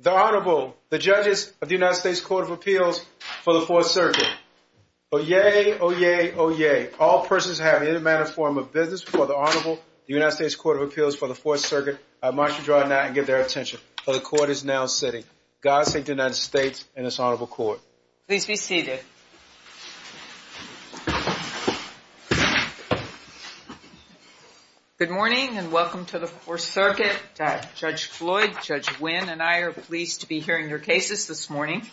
The Honorable, the Judges of the United States Court of Appeals for the Fourth Circuit. Oyez, oyez, oyez, all persons having any manner or form of business before the Honorable, the United States Court of Appeals for the Fourth Circuit, I mark you dry now and give their attention, for the Court is now sitting. God save the United States and this Honorable Court. Please be seated. Good morning and welcome to the Fourth Circuit. Judge Floyd, Judge Wynn and I are pleased to be hearing your cases this morning.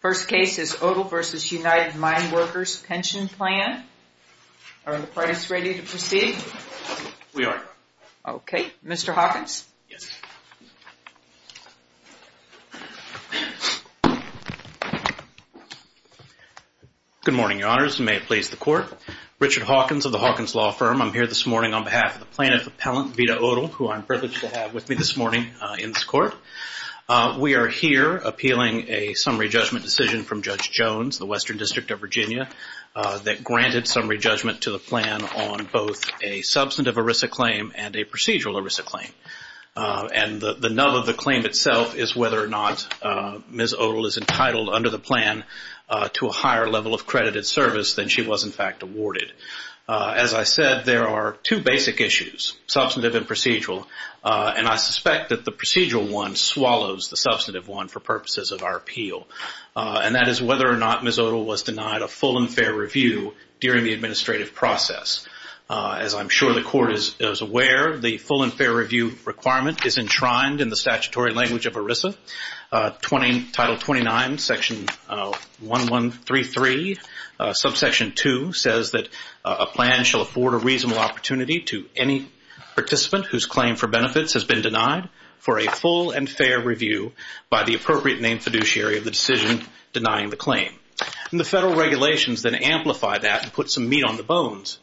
First case is Odle v. United Mine Workers Pension Plan. Are the parties ready to proceed? We are. Okay. Mr. Hawkins? Good morning, Your Honors, and may it please the Court. Richard Hawkins of the Hawkins Law Firm. I'm here this morning on behalf of the plaintiff appellant, Veda Odle, who I'm privileged to have with me this morning in this Court. We are here appealing a summary judgment decision from Judge Jones, the Western District of Virginia, that granted summary judgment to the plan on both a substantive ERISA claim and a procedural ERISA claim. And the nub of the claim itself is whether or not Ms. Odle is entitled under the plan to a higher level of credited service than she was in fact awarded. As I said, there are two basic issues, substantive and procedural, and I suspect that the procedural one swallows the substantive one for purposes of our appeal. And that is whether or not Ms. Odle was denied a full and fair review during the administrative process. As I'm sure the Court is aware, the full and fair review requirement is enshrined in the statutory language of ERISA. Title 29, section 1133, subsection 2 says that a plan shall afford a reasonable opportunity to any participant whose claim for benefits has been denied for a full and fair review by the appropriate named fiduciary of the decision denying the claim. And the federal regulations then amplify that and put some meat on the bones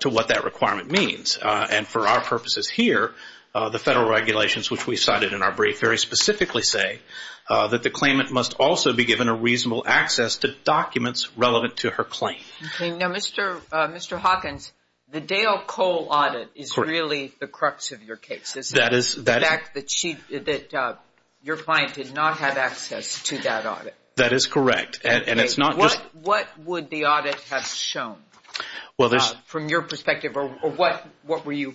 to what that requirement means. And for our purposes here, the federal regulations which we cited in our brief very specifically say that the claimant must also be given a reasonable access to documents relevant to her claim. Now, Mr. Hawkins, the Dale Cole audit is really the crux of your case, isn't it? The fact that your client did not have access to that audit. That is correct. What would the audit have shown from your perspective, or what were you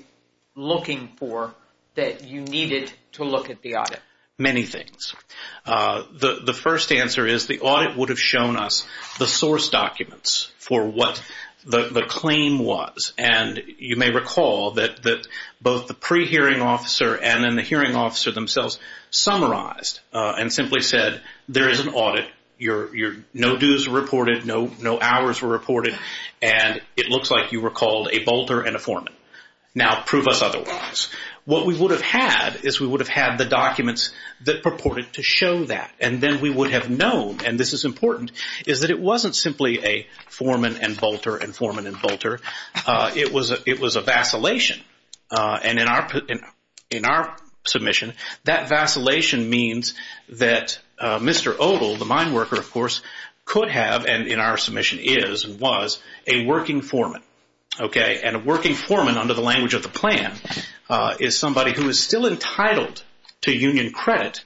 looking for that you needed to look at the audit? Many things. The first answer is the audit would have shown us the source documents for what the claim was. And you may recall that both the pre-hearing officer and then the hearing officer themselves summarized and simply said there is an audit, no dues were reported, no hours were reported, and it looks like you were called a bolter and a foreman. Now prove us otherwise. What we would have had is we would have had the documents that purported to show that. And then we would have known, and this is important, is that it wasn't simply a foreman and bolter and foreman and bolter. It was a vacillation. And in our submission, that vacillation means that Mr. Odle, the mine worker, of course, could have, and in our submission is and was, a working foreman. And a working foreman, under the language of the plan, is somebody who is still entitled to union credit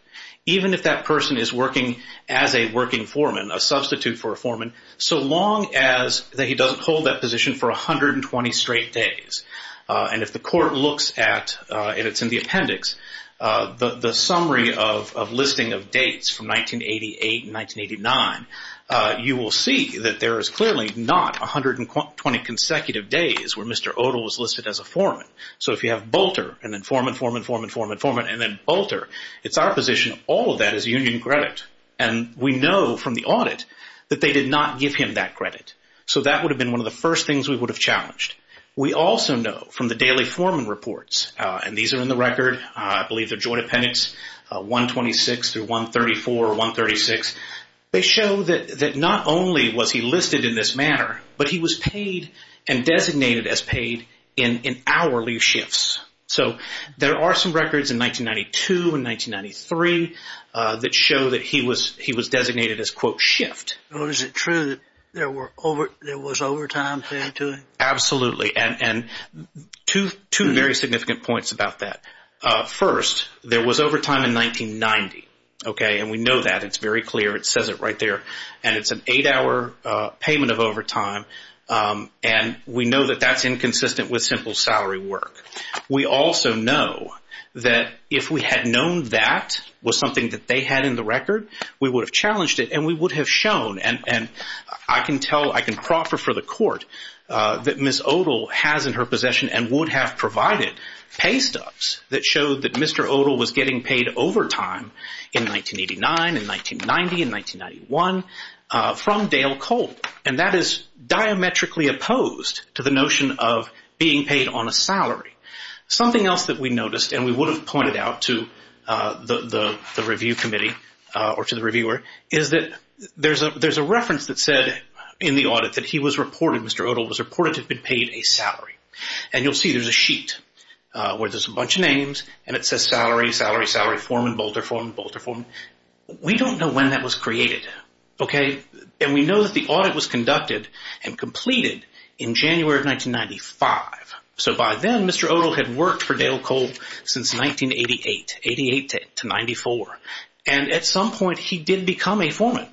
even if that person is working as a working foreman, a substitute for a foreman, so long as that he doesn't hold that position for 120 straight days. And if the court looks at, and it's in the appendix, the summary of listing of dates from 1988 and 1989, you will see that there is clearly not 120 consecutive days where Mr. Odle was listed as a foreman. So if you have bolter and then foreman, foreman, foreman, foreman, foreman, and then bolter, it's our position all of that is union credit. And we know from the audit that they did not give him that credit. So that would have been one of the first things we would have challenged. We also know from the daily foreman reports, and these are in the record. I believe they're joint appendix 126 through 134 or 136. They show that not only was he listed in this manner, but he was paid and designated as paid in hourly shifts. So there are some records in 1992 and 1993 that show that he was designated as, quote, shift. Was it true that there was overtime paid to him? Absolutely, and two very significant points about that. First, there was overtime in 1990, okay, and we know that. It's very clear. It says it right there. And it's an eight-hour payment of overtime, and we know that that's inconsistent with simple salary work. We also know that if we had known that was something that they had in the record, we would have challenged it, and we would have shown, and I can tell, I can proffer for the court that Ms. Odle has in her possession and would have provided pay stubs that showed that Mr. Odle was getting paid overtime in 1989, in 1990, in 1991 from Dale Colt. And that is diametrically opposed to the notion of being paid on a salary. Something else that we noticed, and we would have pointed out to the review committee or to the reviewer, is that there's a reference that said in the audit that he was reported, Mr. Odle was reported to have been paid a salary. And you'll see there's a sheet where there's a bunch of names, and it says salary, salary, salary, foreman, bolter, foreman, bolter, foreman. We don't know when that was created, okay, and we know that the audit was conducted and completed in January of 1995. So by then, Mr. Odle had worked for Dale Colt since 1988, 88 to 94, and at some point, he did become a foreman.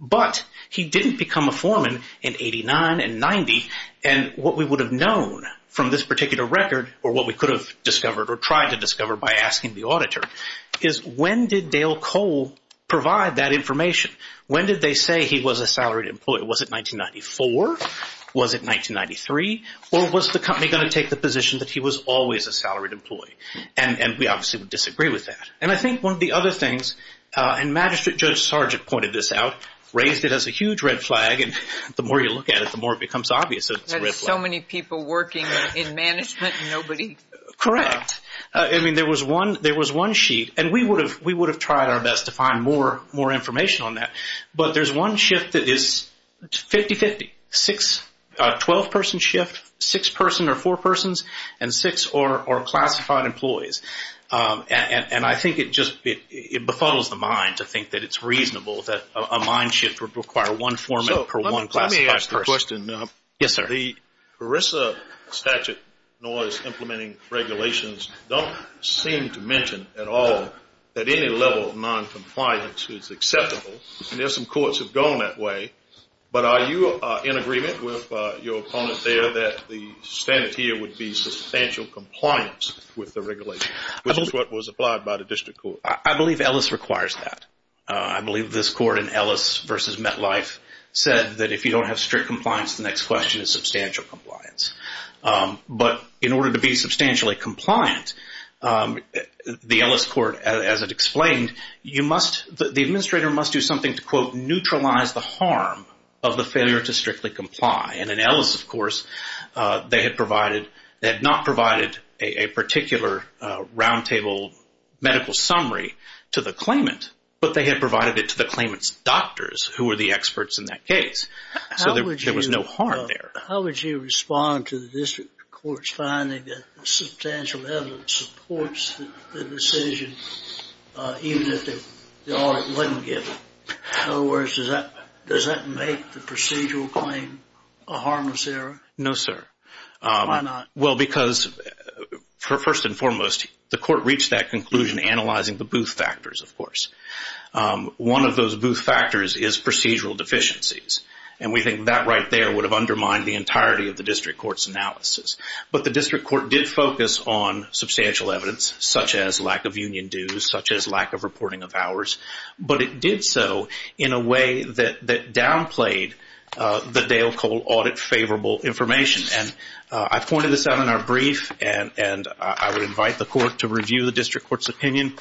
But he didn't become a foreman in 89 and 90, and what we would have known from this particular record, or what we could have discovered or tried to discover by asking the auditor, is when did Dale Colt provide that information? When did they say he was a salaried employee? Was it 1994? Was it 1993? Or was the company going to take the position that he was always a salaried employee? And we obviously would disagree with that. And I think one of the other things, and Magistrate Judge Sargent pointed this out, raised it as a huge red flag, and the more you look at it, the more it becomes obvious that it's a red flag. There's so many people working in management and nobody. Correct. I mean, there was one sheet, and we would have tried our best to find more information on that, but there's one shift that is 50-50, a 12-person shift, six person or four persons, and six are classified employees. And I think it just befuddles the mind to think that it's reasonable that a mind shift would require one foreman per one classified person. Let me ask the question. Yes, sir. The ERISA statute noise implementing regulations don't seem to mention at all that any level of noncompliance is acceptable, and there are some courts that have gone that way, but are you in agreement with your opponent there that the standard here would be substantial compliance with the regulation, which is what was applied by the district court? I believe Ellis requires that. I believe this court in Ellis v. MetLife said that if you don't have strict compliance, the next question is substantial compliance. But in order to be substantially compliant, the Ellis court, as it explained, the administrator must do something to, quote, neutralize the harm of the failure to strictly comply. And in Ellis, of course, they had not provided a particular roundtable medical summary to the claimant, but they had provided it to the claimant's doctors, who were the experts in that case. So there was no harm there. How would you respond to the district court's finding that substantial evidence supports the decision, even if the audit wasn't given? In other words, does that make the procedural claim a harmless error? No, sir. Why not? Well, because first and foremost, the court reached that conclusion analyzing the booth factors, of course. One of those booth factors is procedural deficiencies, and we think that right there would have undermined the entirety of the district court's analysis. But the district court did focus on substantial evidence, such as lack of union dues, such as lack of reporting of hours. But it did so in a way that downplayed the Dale Cole audit favorable information. And I've pointed this out in our brief, and I would invite the court to review the district court's opinion.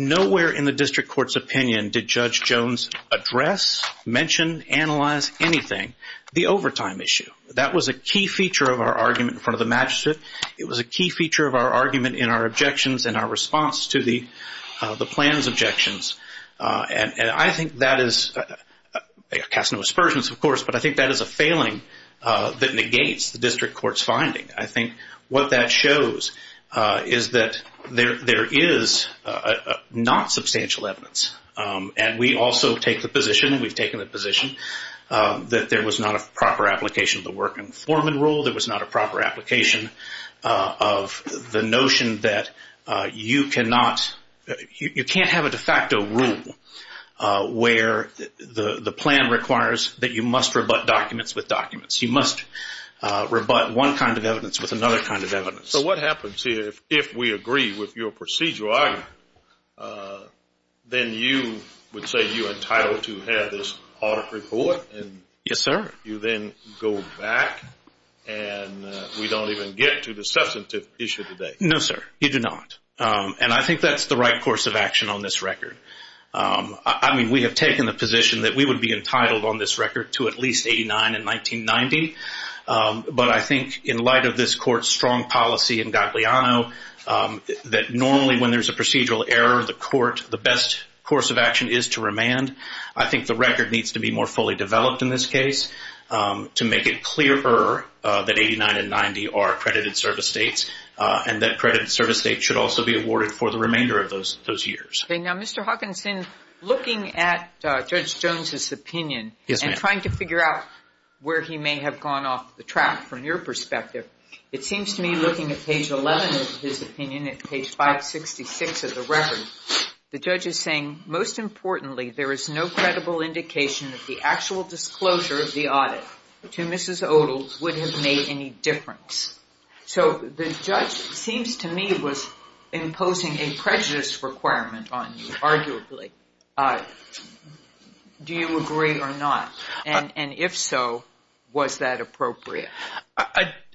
Nowhere in the district court's opinion did Judge Jones address, mention, analyze anything the overtime issue. That was a key feature of our argument in front of the magistrate. It was a key feature of our argument in our objections and our response to the plan's objections. And I think that is, I'll cast no aspersions, of course, but I think that is a failing that negates the district court's finding. I think what that shows is that there is not substantial evidence. And we also take the position, we've taken the position, that there was not a proper application of the work informant rule. There was not a proper application of the notion that you cannot, you can't have a de facto rule where the plan requires that you must rebut documents with documents. You must rebut one kind of evidence with another kind of evidence. So what happens here if we agree with your procedural argument, then you would say you're entitled to have this audit report? Yes, sir. And you then go back and we don't even get to the substantive issue today? No, sir, you do not. And I think that's the right course of action on this record. I mean, we have taken the position that we would be entitled on this record to at least 89 and 1990. But I think in light of this court's strong policy in Gagliano that normally when there's a procedural error, the court, the best course of action is to remand. I think the record needs to be more fully developed in this case to make it clearer that 89 and 90 are accredited service dates and that accredited service dates should also be awarded for the remainder of those years. Now, Mr. Hawkinson, looking at Judge Jones's opinion and trying to figure out where he may have gone off the track from your perspective, it seems to me looking at page 11 of his opinion, at page 566 of the record, the judge is saying, most importantly, there is no credible indication that the actual disclosure of the audit to Mrs. Odell would have made any difference. So the judge seems to me was imposing a prejudice requirement on you, arguably. Do you agree or not? And if so, was that appropriate?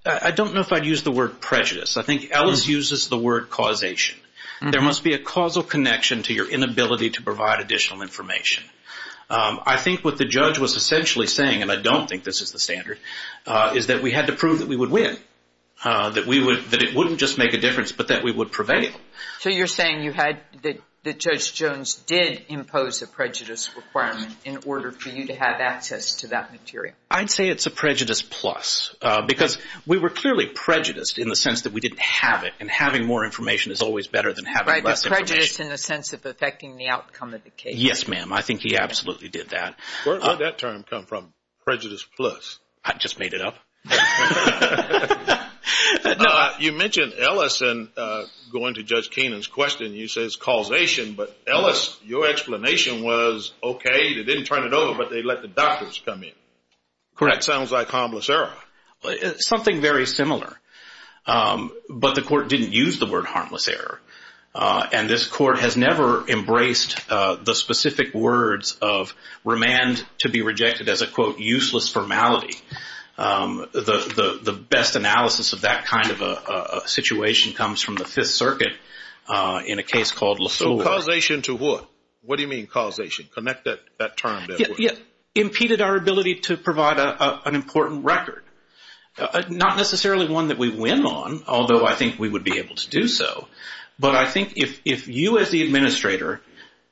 I don't know if I'd use the word prejudice. I think Ellis uses the word causation. There must be a causal connection to your inability to provide additional information. I think what the judge was essentially saying, and I don't think this is the standard, is that we had to prove that we would win, that it wouldn't just make a difference but that we would prevail. So you're saying that Judge Jones did impose a prejudice requirement in order for you to have access to that material? I'd say it's a prejudice plus because we were clearly prejudiced in the sense that we didn't have it, and having more information is always better than having less information. Right, the prejudice in the sense of affecting the outcome of the case. Yes, ma'am, I think he absolutely did that. Where did that term come from, prejudice plus? I just made it up. You mentioned Ellis, and going to Judge Keenan's question, you said it's causation, but Ellis, your explanation was okay, they didn't turn it over, but they let the doctors come in. Correct. Sounds like harmless error. Something very similar, but the court didn't use the word harmless error, and this court has never embraced the specific words of remand to be rejected as a, quote, useless formality. The best analysis of that kind of a situation comes from the Fifth Circuit in a case called La Soul. So causation to what? What do you mean causation? Connect that term. Impeded our ability to provide an important record, not necessarily one that we win on, although I think we would be able to do so, but I think if you as the administrator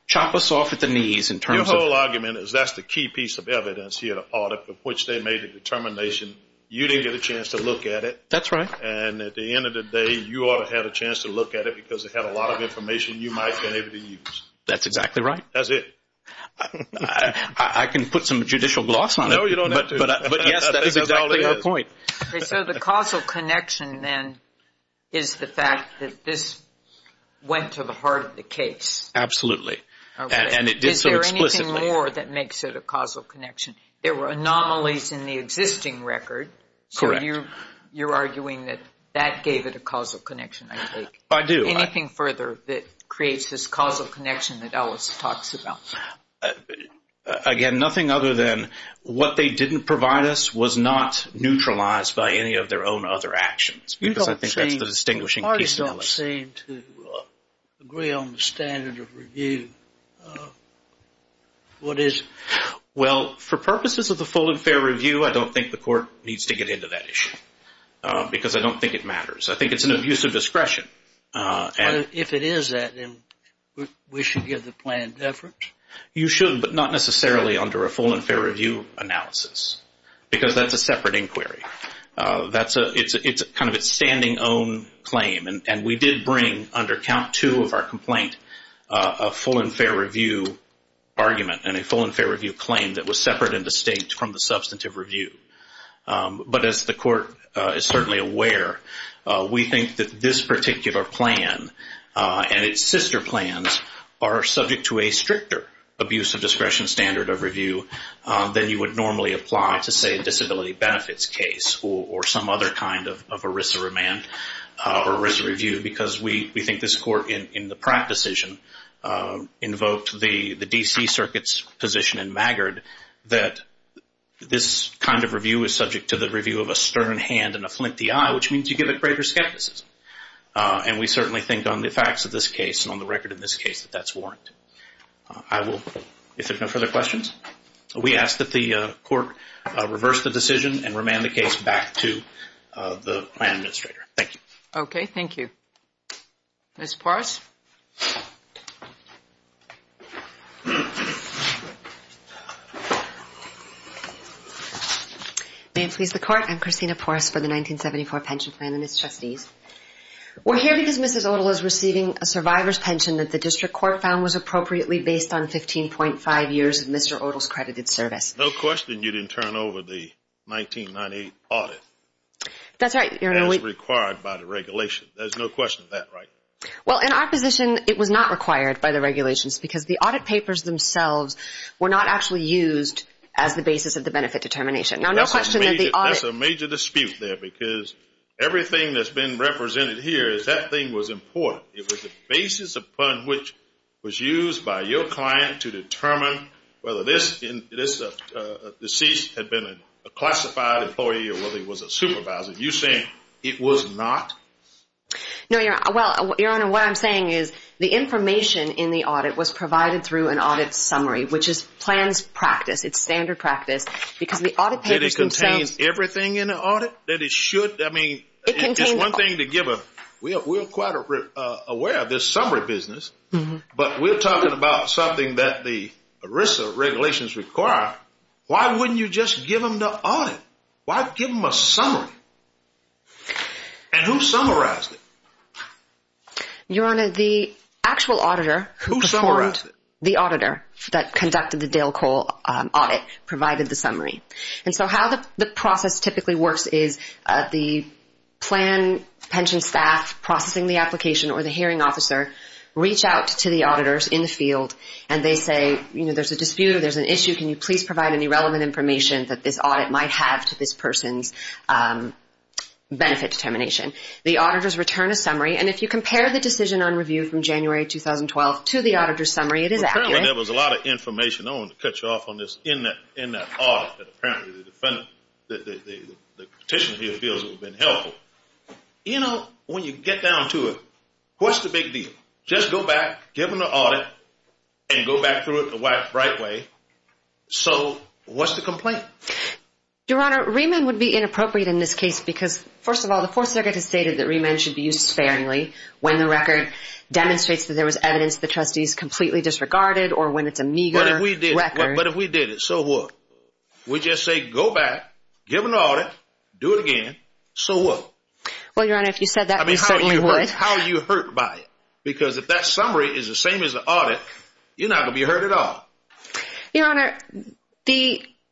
chop us off at the knees in terms of Your whole argument is that's the key piece of evidence here, the part of which they made the determination, you didn't get a chance to look at it. That's right. And at the end of the day, you ought to have a chance to look at it, because it had a lot of information you might have been able to use. That's exactly right. That's it. I can put some judicial gloss on it. No, you don't have to. But, yes, that is exactly our point. So the causal connection, then, is the fact that this went to the heart of the case. Absolutely. And it did so explicitly. Is there anything more that makes it a causal connection? There were anomalies in the existing record. Correct. So you're arguing that that gave it a causal connection, I take it. I do. Anything further that creates this causal connection that Ellis talks about? Again, nothing other than what they didn't provide us was not neutralized by any of their own other actions, because I think that's the distinguishing piece of it. Parties don't seem to agree on the standard of review. What is it? Well, for purposes of the full and fair review, I don't think the court needs to get into that issue, because I don't think it matters. I think it's an abuse of discretion. If it is that, then we should give the plan deference? You should, but not necessarily under a full and fair review analysis, because that's a separate inquiry. It's kind of a standing own claim, and we did bring, under count two of our complaint, a full and fair review argument and a full and fair review claim that was separate and distinct from the substantive review. But as the court is certainly aware, we think that this particular plan and its sister plans are subject to a stricter abuse of discretion standard of review than you would normally apply to, say, a disability benefits case or some other kind of ERISA remand or ERISA review, because we think this court in the Pratt decision invoked the D.C. Circuit's position in Maggard that this kind of review is subject to the review of a stern hand and a flinty eye, which means you give it greater skepticism. And we certainly think on the facts of this case and on the record in this case that that's warranted. If there are no further questions, we ask that the court reverse the decision and remand the case back to the plan administrator. Thank you. Okay, thank you. Ms. Porras? May it please the court, I'm Christina Porras for the 1974 pension plan and its trustees. We're here because Mrs. Odle is receiving a survivor's pension that the district court found was appropriately based on 15.5 years of Mr. Odle's credited service. No question you didn't turn over the 1998 audit. That's right. As required by the regulation. There's no question of that, right? Well, in our position, it was not required by the regulations because the audit papers themselves were not actually used as the basis of the benefit determination. That's a major dispute there because everything that's been represented here is that thing was important. It was the basis upon which was used by your client to determine whether this deceased had been a classified employee or whether he was a supervisor. You're saying it was not? No, Your Honor. Well, Your Honor, what I'm saying is the information in the audit was provided through an audit summary, which is plans practice. It's standard practice because the audit papers themselves. That it contains everything in the audit? That it should? I mean, it's one thing to give a, we're quite aware of this summary business, but we're talking about something that the ERISA regulations require. Why wouldn't you just give them the audit? Why give them a summary? And who summarized it? Your Honor, the actual auditor. Who summarized it? The auditor that conducted the Dale Cole audit provided the summary. And so how the process typically works is the plan pension staff processing the application or the hearing officer reach out to the auditors in the field and they say, you know, there's a dispute or there's an issue. Can you please provide any relevant information that this audit might have to this person's benefit determination? The auditors return a summary. And if you compare the decision on review from January 2012 to the auditor's summary, it is accurate. Apparently there was a lot of information. I don't want to cut you off on this. In that audit, apparently the petitioner here feels it would have been helpful. You know, when you get down to it, what's the big deal? Just go back, give them the audit, and go back through it the right way. So what's the complaint? Your Honor, remand would be inappropriate in this case because, first of all, the Fourth Circuit has stated that remand should be used sparingly when the record demonstrates that there was evidence the trustees completely disregarded or when it's a meager record. But if we did it, so what? We just say go back, give them the audit, do it again, so what? Well, Your Honor, if you said that, we certainly would. And how are you hurt by it? Because if that summary is the same as the audit, you're not going to be hurt at all. Your Honor,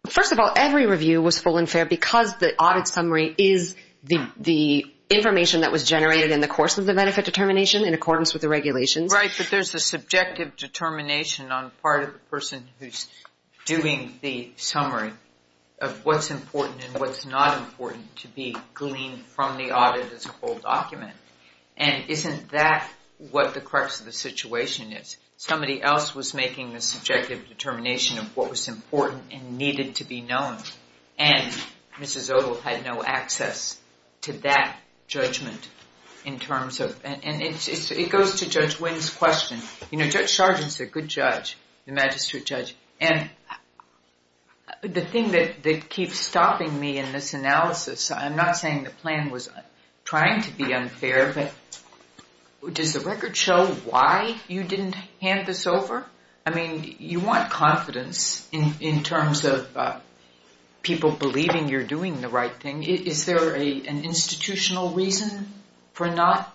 first of all, every review was full and fair because the audit summary is the information that was generated in the course of the benefit determination in accordance with the regulations. Right, but there's a subjective determination on the part of the person who's doing the summary of what's important and what's not important to be gleaned from the audit as a whole document. And isn't that what the crux of the situation is? Somebody else was making the subjective determination of what was important and needed to be known, and Mrs. Odle had no access to that judgment in terms of, and it goes to Judge Wynn's question. Judge Sargent's a good judge, a magistrate judge, and the thing that keeps stopping me in this analysis, I'm not saying the plan was trying to be unfair, but does the record show why you didn't hand this over? I mean, you want confidence in terms of people believing you're doing the right thing. I mean, is there an institutional reason for not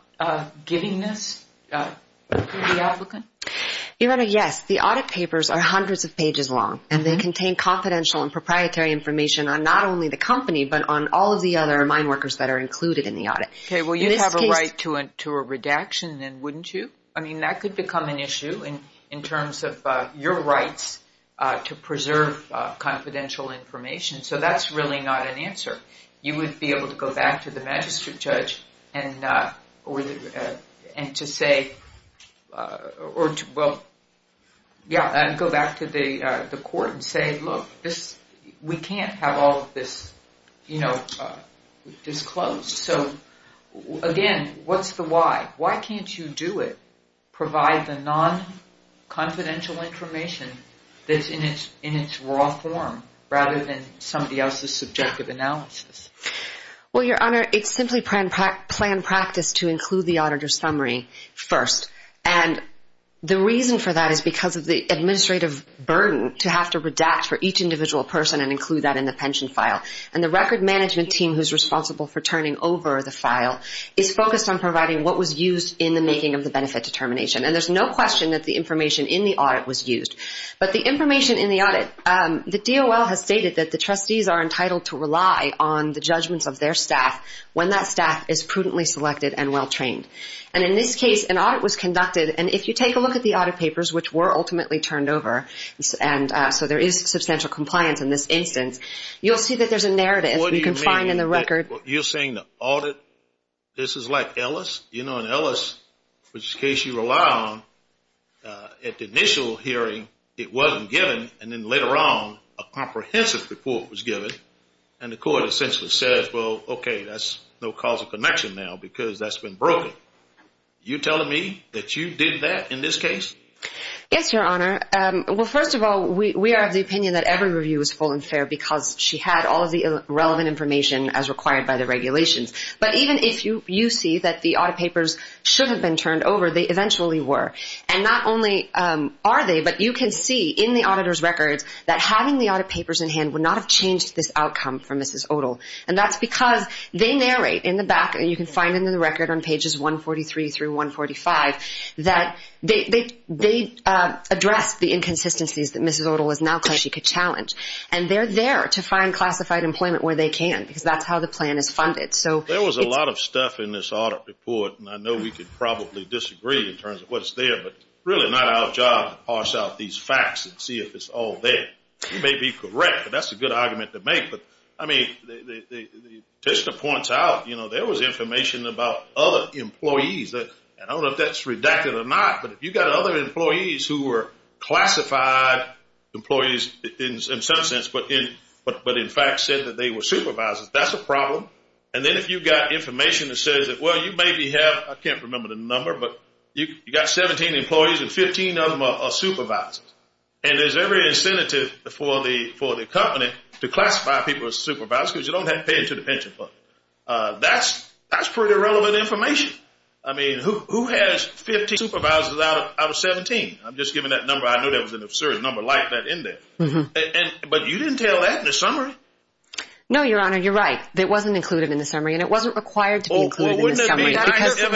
giving this to the applicant? Your Honor, yes. The audit papers are hundreds of pages long, and they contain confidential and proprietary information on not only the company, but on all of the other mine workers that are included in the audit. Okay, well, you'd have a right to a redaction then, wouldn't you? I mean, that could become an issue in terms of your rights to preserve confidential information. So that's really not an answer. You would be able to go back to the magistrate judge and to say, well, yeah, and go back to the court and say, look, we can't have all of this disclosed. So, again, what's the why? Why can't you do it, provide the non-confidential information that's in its raw form, rather than somebody else's subjective analysis? Well, Your Honor, it's simply planned practice to include the auditor's summary first. And the reason for that is because of the administrative burden to have to redact for each individual person and include that in the pension file. And the record management team who's responsible for turning over the file is focused on providing what was used in the making of the benefit determination. And there's no question that the information in the audit was used. But the information in the audit, the DOL has stated that the trustees are entitled to rely on the judgments of their staff when that staff is prudently selected and well-trained. And in this case, an audit was conducted, and if you take a look at the audit papers, which were ultimately turned over, and so there is substantial compliance in this instance, you'll see that there's a narrative you can find in the record. What do you mean? You're saying the audit, this is like Ellis? You know, in Ellis, which is a case you rely on, at the initial hearing it wasn't given, and then later on a comprehensive report was given, and the court essentially said, well, okay, that's no cause of connection now because that's been broken. You're telling me that you did that in this case? Yes, Your Honor. Well, first of all, we are of the opinion that every review was full and fair because she had all of the relevant information as required by the regulations. But even if you see that the audit papers should have been turned over, they eventually were. And not only are they, but you can see in the auditor's records that having the audit papers in hand would not have changed this outcome for Mrs. Odle. And that's because they narrate in the back, and you can find in the record on pages 143 through 145, that they address the inconsistencies that Mrs. Odle is now claiming she could challenge. And they're there to find classified employment where they can because that's how the plan is funded. There was a lot of stuff in this audit report, and I know we could probably disagree in terms of what's there, but really not our job to parse out these facts and see if it's all there. You may be correct, but that's a good argument to make. But, I mean, the test points out, you know, there was information about other employees. I don't know if that's redacted or not, but if you've got other employees who were classified employees in some sense, but in fact said that they were supervisors, that's a problem. And then if you've got information that says that, well, you maybe have, I can't remember the number, but you've got 17 employees, and 15 of them are supervisors. And there's every incentive for the company to classify people as supervisors because you don't have to pay into the pension fund. That's pretty relevant information. I mean, who has 15 supervisors out of 17? I'm just giving that number. I know that was an absurd number. Light that in there. But you didn't tell that in the summary. No, Your Honor, you're right. It wasn't included in the summary, and it wasn't required to be included in the summary. Oh, well, wouldn't it have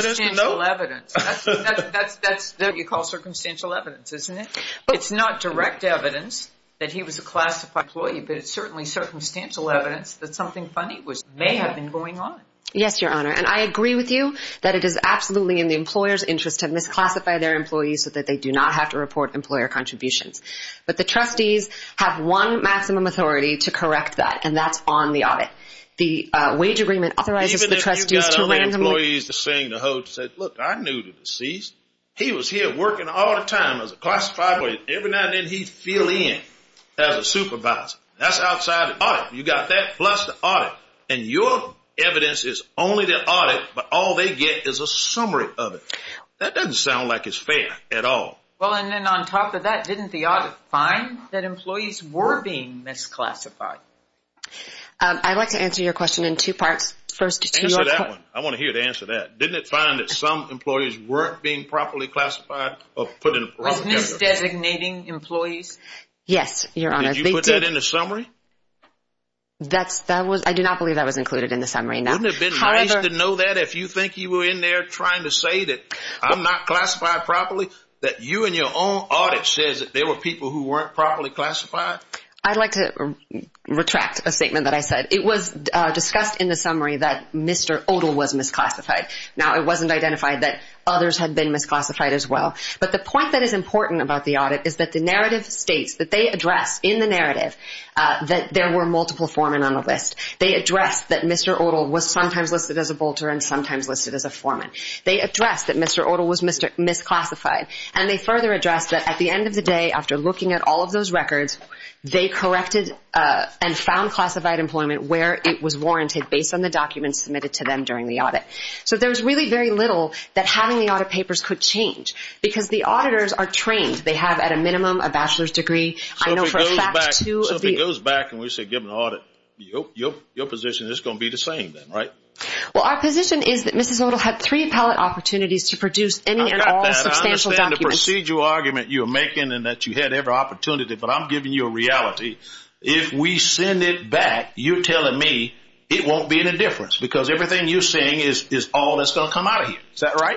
been? That's what you call circumstantial evidence, isn't it? It's not direct evidence that he was a classified employee, but it's certainly circumstantial evidence that something funny may have been going on. Yes, Your Honor. And I agree with you that it is absolutely in the employer's interest to misclassify their employees so that they do not have to report employer contributions. But the trustees have one maximum authority to correct that, and that's on the audit. The wage agreement authorizes the trustees to randomly – Even if you got other employees to sing the hoed and said, look, I knew the deceased. He was here working all the time as a classified employee. Every now and then he'd fill in as a supervisor. That's outside the audit. You got that plus the audit. And your evidence is only the audit, but all they get is a summary of it. That doesn't sound like it's fair at all. Well, and then on top of that, didn't the audit find that employees were being misclassified? I'd like to answer your question in two parts. Answer that one. I want to hear the answer to that. Didn't it find that some employees weren't being properly classified or put in a proper category? Was misdesignating employees? Yes, Your Honor. Did you put that in the summary? I do not believe that was included in the summary, no. Wouldn't it have been nice to know that if you think you were in there trying to say that I'm not classified properly, that you and your own audit says that there were people who weren't properly classified? I'd like to retract a statement that I said. It was discussed in the summary that Mr. Odle was misclassified. Now, it wasn't identified that others had been misclassified as well. But the point that is important about the audit is that the narrative states, that they address in the narrative, that there were multiple foremen on the list. They address that Mr. Odle was sometimes listed as a bolter and sometimes listed as a foreman. They address that Mr. Odle was misclassified. And they further address that at the end of the day, after looking at all of those records, they corrected and found classified employment where it was warranted based on the documents submitted to them during the audit. So there's really very little that having the audit papers could change because the auditors are trained. They have, at a minimum, a bachelor's degree. So if it goes back and we say give them an audit, your position is going to be the same, right? Well, our position is that Mrs. Odle had three appellate opportunities to produce any and all substantial documents. I understand the procedural argument you're making and that you had every opportunity. But I'm giving you a reality. If we send it back, you're telling me it won't be any difference because everything you're saying is all that's going to come out of here. Is that right?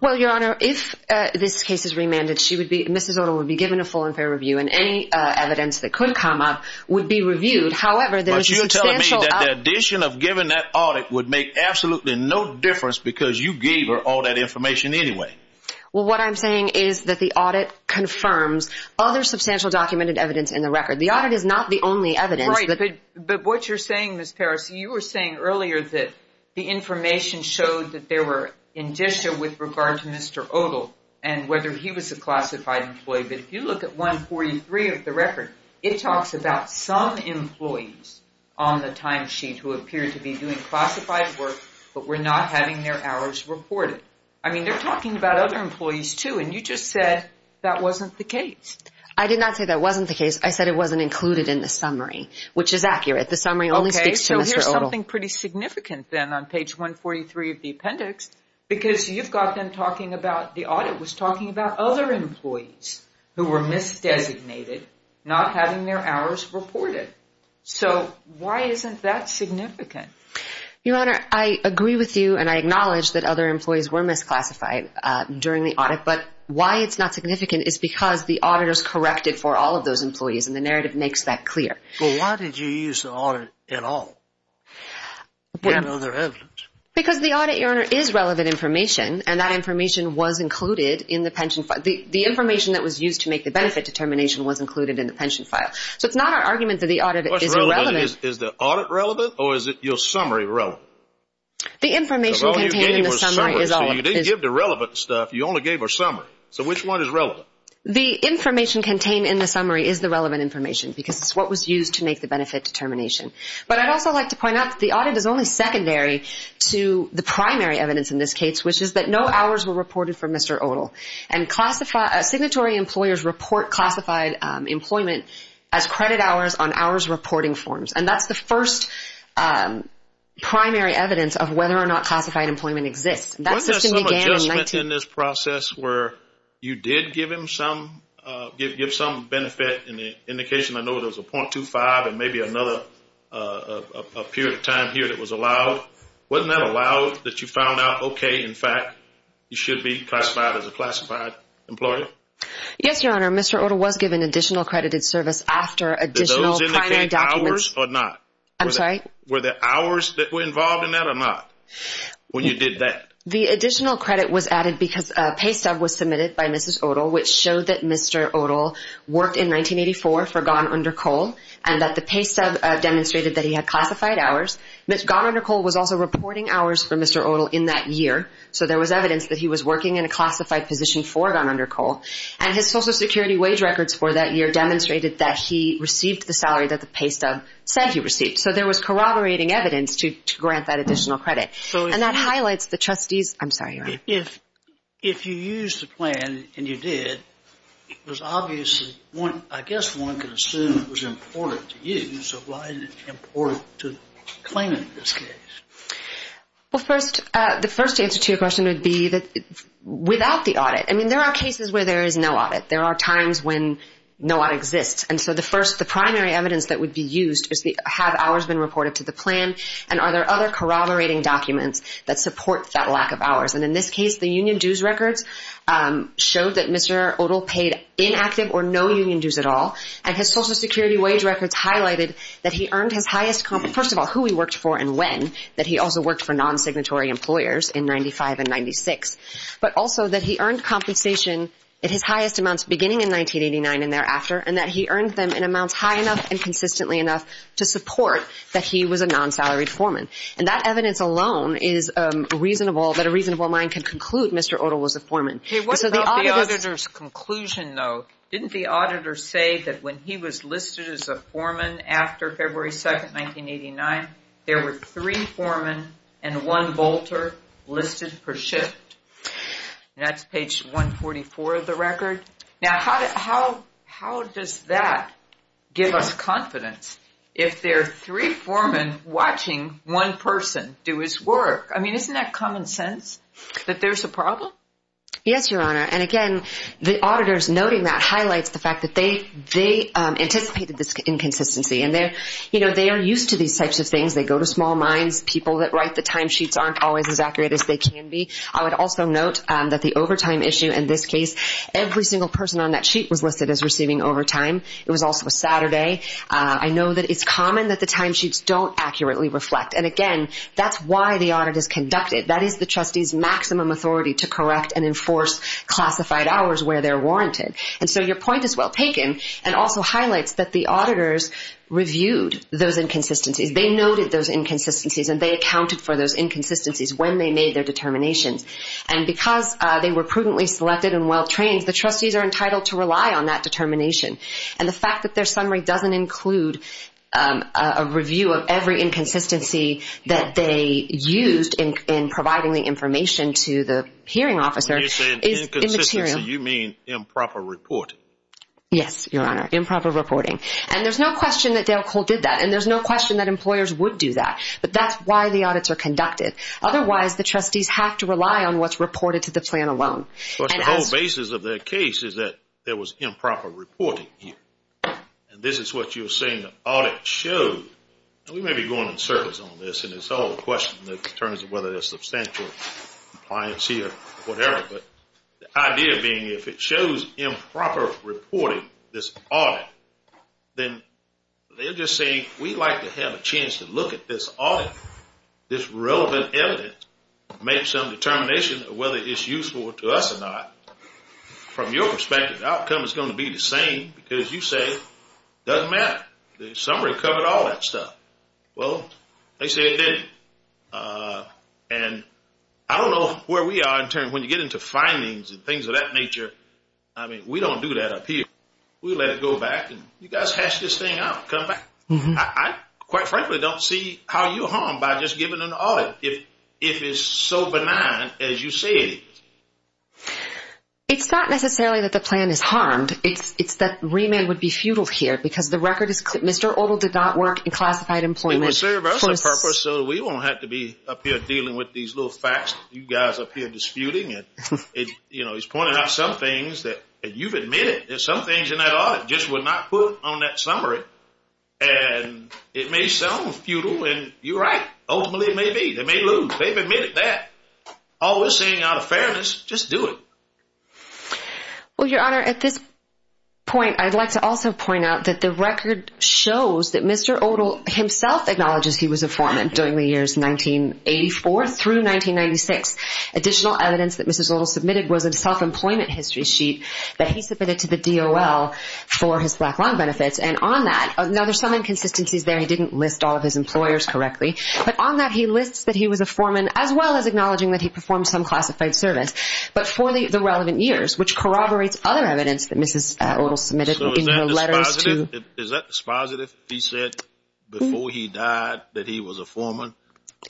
Well, Your Honor, if this case is remanded, Mrs. Odle would be given a full and fair review and any evidence that could come up would be reviewed. However, there's a substantial… But you're telling me that the addition of giving that audit would make absolutely no difference because you gave her all that information anyway. Well, what I'm saying is that the audit confirms other substantial documented evidence in the record. The audit is not the only evidence. Right, but what you're saying, Ms. Parris, you were saying earlier that the information showed that there were indicia with regard to Mr. Odle and whether he was a classified employee. But if you look at 143 of the record, it talks about some employees on the timesheet who appeared to be doing classified work but were not having their hours reported. I mean, they're talking about other employees, too, and you just said that wasn't the case. I did not say that wasn't the case. I said it wasn't included in the summary, which is accurate. The summary only speaks to Mr. Odle. Okay, so here's something pretty significant then on page 143 of the appendix because you've got them talking about the audit was talking about other employees who were misdesignated, not having their hours reported. So why isn't that significant? Your Honor, I agree with you and I acknowledge that other employees were misclassified during the audit, but why it's not significant is because the auditor's corrected for all of those employees and the narrative makes that clear. Well, why did you use the audit at all? Because the audit, Your Honor, is relevant information, and that information was included in the pension file. The information that was used to make the benefit determination was included in the pension file. So it's not our argument that the audit is irrelevant. What's relevant? Is the audit relevant or is your summary relevant? The information contained in the summary is all relevant. If you didn't give the relevant stuff, you only gave our summary. So which one is relevant? The information contained in the summary is the relevant information because it's what was used to make the benefit determination. But I'd also like to point out that the audit is only secondary to the primary evidence in this case, which is that no hours were reported for Mr. Odle. And signatory employers report classified employment as credit hours on hours reporting forms, and that's the first primary evidence of whether or not classified employment exists. Wasn't there some adjustment in this process where you did give him some benefit in the indication I know there was a .25 and maybe another period of time here that was allowed? Wasn't that allowed that you found out, okay, in fact, you should be classified as a classified employer? Yes, Your Honor. Mr. Odle was given additional accredited service after additional primary documents. Did those indicate hours or not? I'm sorry? Were there hours that were involved in that or not when you did that? The additional credit was added because a pay stub was submitted by Mrs. Odle, which showed that Mr. Odle worked in 1984 for Gone Under Coal, and that the pay stub demonstrated that he had classified hours. Gone Under Coal was also reporting hours for Mr. Odle in that year, so there was evidence that he was working in a classified position for Gone Under Coal. And his Social Security wage records for that year demonstrated that he received the salary that the pay stub said he received. So there was corroborating evidence to grant that additional credit. And that highlights the trustee's – I'm sorry, Your Honor. If you used the plan, and you did, it was obviously – I guess one could assume it was important to you, so why is it important to the claimant in this case? Well, first, the first answer to your question would be without the audit. I mean, there are cases where there is no audit. There are times when no audit exists. And so the first – the primary evidence that would be used is have hours been reported to the plan, and are there other corroborating documents that support that lack of hours. And in this case, the union dues records showed that Mr. Odle paid inactive or no union dues at all, and his Social Security wage records highlighted that he earned his highest – first of all, who he worked for and when, that he also worked for non-signatory employers in 95 and 96, but also that he earned compensation at his highest amounts beginning in 1989 and thereafter, and that he earned them in amounts high enough and consistently enough to support that he was a non-salaried foreman. And that evidence alone is reasonable, that a reasonable mind can conclude Mr. Odle was a foreman. Okay, what about the auditor's conclusion, though? Didn't the auditor say that when he was listed as a foreman after February 2nd, 1989, there were three foremen and one bolter listed per shift? And that's page 144 of the record. Now, how does that give us confidence if there are three foremen watching one person do his work? I mean, isn't that common sense that there's a problem? Yes, Your Honor, and again, the auditor's noting that highlights the fact that they anticipated this inconsistency, and they are used to these types of things. They go to small minds, people that write the timesheets aren't always as accurate as they can be. I would also note that the overtime issue in this case, every single person on that sheet was listed as receiving overtime. It was also a Saturday. I know that it's common that the timesheets don't accurately reflect, and again, that's why the audit is conducted. That is the trustee's maximum authority to correct and enforce classified hours where they're warranted. And so your point is well taken and also highlights that the auditors reviewed those inconsistencies. They noted those inconsistencies, and they accounted for those inconsistencies when they made their determinations. And because they were prudently selected and well trained, the trustees are entitled to rely on that determination. And the fact that their summary doesn't include a review of every inconsistency that they used in providing the information to the hearing officer is immaterial. When you say an inconsistency, you mean improper reporting. Yes, Your Honor, improper reporting. And there's no question that Dale Cole did that, and there's no question that employers would do that. But that's why the audits are conducted. Otherwise, the trustees have to rely on what's reported to the plan alone. But the whole basis of that case is that there was improper reporting here. And this is what you're saying the audit showed. We may be going in circles on this, and it's all a question in terms of whether there's substantial compliance here or whatever. But the idea being if it shows improper reporting, this audit, then they're just saying we'd like to have a chance to look at this audit, this relevant evidence, make some determination of whether it's useful to us or not. From your perspective, the outcome is going to be the same because you say it doesn't matter. The summary covered all that stuff. Well, they say it didn't. And I don't know where we are in terms when you get into findings and things of that nature. I mean, we don't do that up here. We let it go back, and you guys hash this thing out, come back. I quite frankly don't see how you're harmed by just giving an audit if it's so benign as you say it is. It's not necessarily that the plan is harmed. It's that remand would be futile here because the record is Mr. Odell did not work in classified employment. It would serve us a purpose so we won't have to be up here dealing with these little facts you guys up here disputing. You know, he's pointed out some things that you've admitted, and some things in that audit just were not put on that summary. And it may sound futile, and you're right. Ultimately, it may be. They may lose. They've admitted that. All we're saying out of fairness, just do it. Well, Your Honor, at this point, I'd like to also point out that the record shows that Mr. Odell himself acknowledges he was a foreman during the years 1984 through 1996. Additional evidence that Mrs. Odell submitted was a self-employment history sheet that he submitted to the DOL for his black line benefits. And on that, now there's some inconsistencies there. He didn't list all of his employers correctly. But on that, he lists that he was a foreman as well as acknowledging that he performed some classified service. But for the relevant years, which corroborates other evidence that Mrs. Odell submitted in her letters to – So is that dispositive? Is that dispositive? He said before he died that he was a foreman?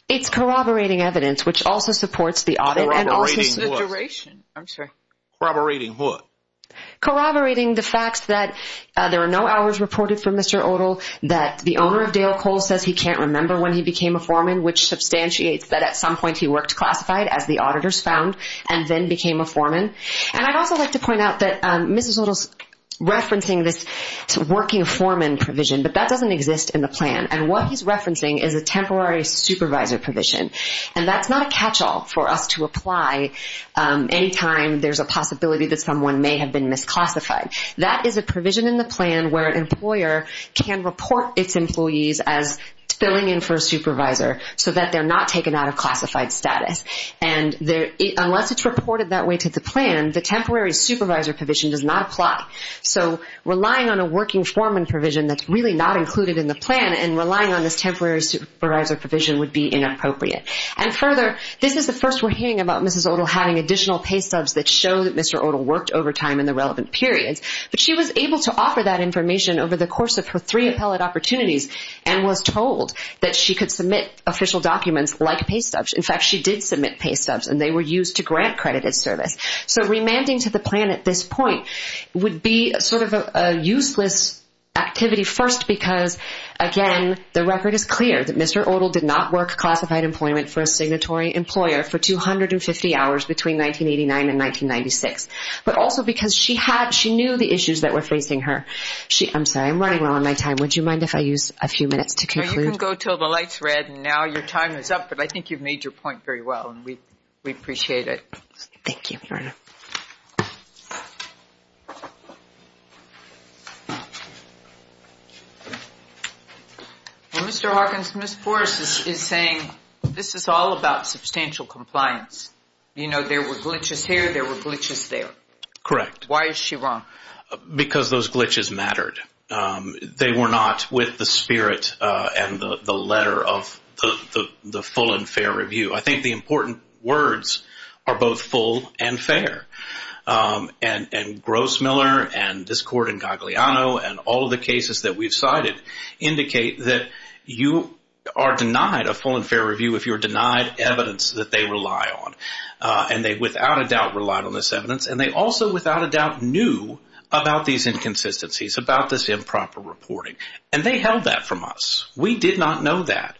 It's corroborating evidence, which also supports the audit and also – Corroborating what? The duration. I'm sorry. Corroborating what? Corroborating the facts that there are no hours reported for Mr. Odell, that the owner of Dale Cole says he can't remember when he became a foreman, which substantiates that at some point he worked classified, as the auditors found, and then became a foreman. And I'd also like to point out that Mrs. Odell's referencing this working foreman provision, but that doesn't exist in the plan. And what he's referencing is a temporary supervisor provision. And that's not a catch-all for us to apply any time there's a possibility that someone may have been misclassified. That is a provision in the plan where an employer can report its employees as filling in for a supervisor so that they're not taken out of classified status. And unless it's reported that way to the plan, the temporary supervisor provision does not apply. So relying on a working foreman provision that's really not included in the plan and relying on this temporary supervisor provision would be inappropriate. And further, this is the first we're hearing about Mrs. Odell having additional paystubs that show that Mr. Odell worked overtime in the relevant periods. But she was able to offer that information over the course of her three appellate opportunities and was told that she could submit official documents like paystubs. In fact, she did submit paystubs, and they were used to grant credited service. So remanding to the plan at this point would be sort of a useless activity first because, again, the record is clear that Mr. Odell did not work classified employment for a signatory employer for 250 hours between 1989 and 1996. But also because she knew the issues that were facing her. I'm sorry. I'm running low on my time. Would you mind if I use a few minutes to conclude? You can go until the light's red and now your time is up, but I think you've made your point very well, and we appreciate it. Thank you. Mr. Hawkins, Ms. Forrest is saying this is all about substantial compliance. You know, there were glitches here. There were glitches there. Correct. Why is she wrong? Because those glitches mattered. They were not with the spirit and the letter of the full and fair review. I think the important words are both full and fair. And Grossmiller and this court in Gagliano and all of the cases that we've cited indicate that you are denied a full and fair review if you're denied evidence that they rely on. And they without a doubt relied on this evidence, and they also without a doubt knew about these inconsistencies, about this improper reporting. And they held that from us. We did not know that.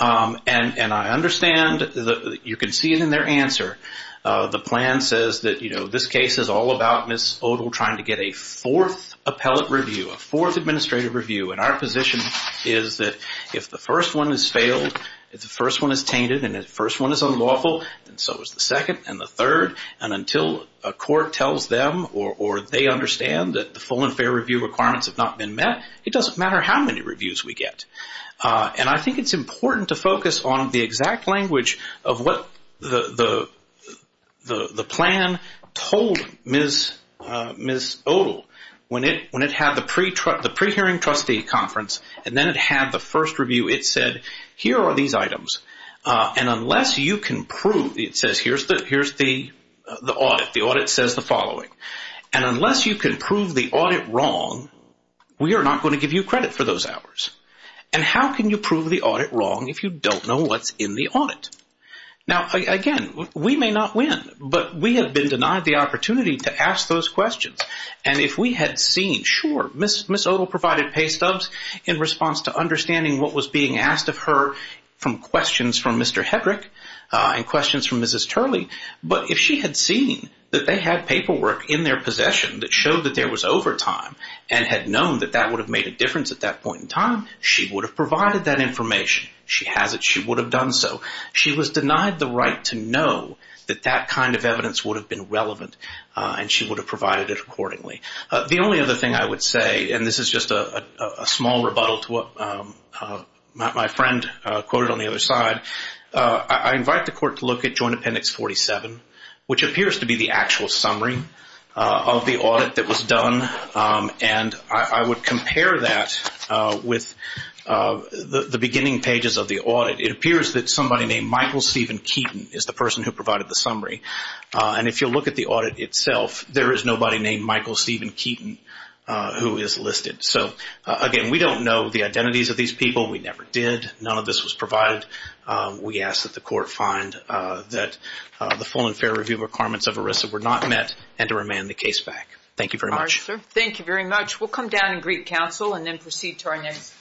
And I understand that you can see it in their answer. The plan says that, you know, this case is all about Ms. Odle trying to get a fourth appellate review, a fourth administrative review, and our position is that if the first one is failed, if the first one is tainted and the first one is unlawful, then so is the second and the third. And until a court tells them or they understand that the full and fair review requirements have not been met, it doesn't matter how many reviews we get. And I think it's important to focus on the exact language of what the plan told Ms. Odle. When it had the pre-hearing trustee conference and then it had the first review, it said, here are these items. And unless you can prove, it says, here's the audit. The audit says the following. And unless you can prove the audit wrong, we are not going to give you credit for those hours. And how can you prove the audit wrong if you don't know what's in the audit? Now, again, we may not win, but we have been denied the opportunity to ask those questions. And if we had seen, sure, Ms. Odle provided pay stubs in response to understanding what was being asked of her from questions from Mr. Hedrick and questions from Mrs. Turley. But if she had seen that they had paperwork in their possession that showed that there was overtime and had known that that would have made a difference at that point in time, she would have provided that information. She has it. She would have done so. She was denied the right to know that that kind of evidence would have been relevant, and she would have provided it accordingly. The only other thing I would say, and this is just a small rebuttal to what my friend quoted on the other side, I invite the court to look at Joint Appendix 47, which appears to be the actual summary of the audit that was done. And I would compare that with the beginning pages of the audit. It appears that somebody named Michael Stephen Keaton is the person who provided the summary. And if you look at the audit itself, there is nobody named Michael Stephen Keaton who is listed. So, again, we don't know the identities of these people. We never did. None of this was provided. We ask that the court find that the full and fair review requirements of ERISA were not met and to remand the case back. Thank you very much. All right, sir. Thank you very much. We'll come down and greet counsel and then proceed to our next case.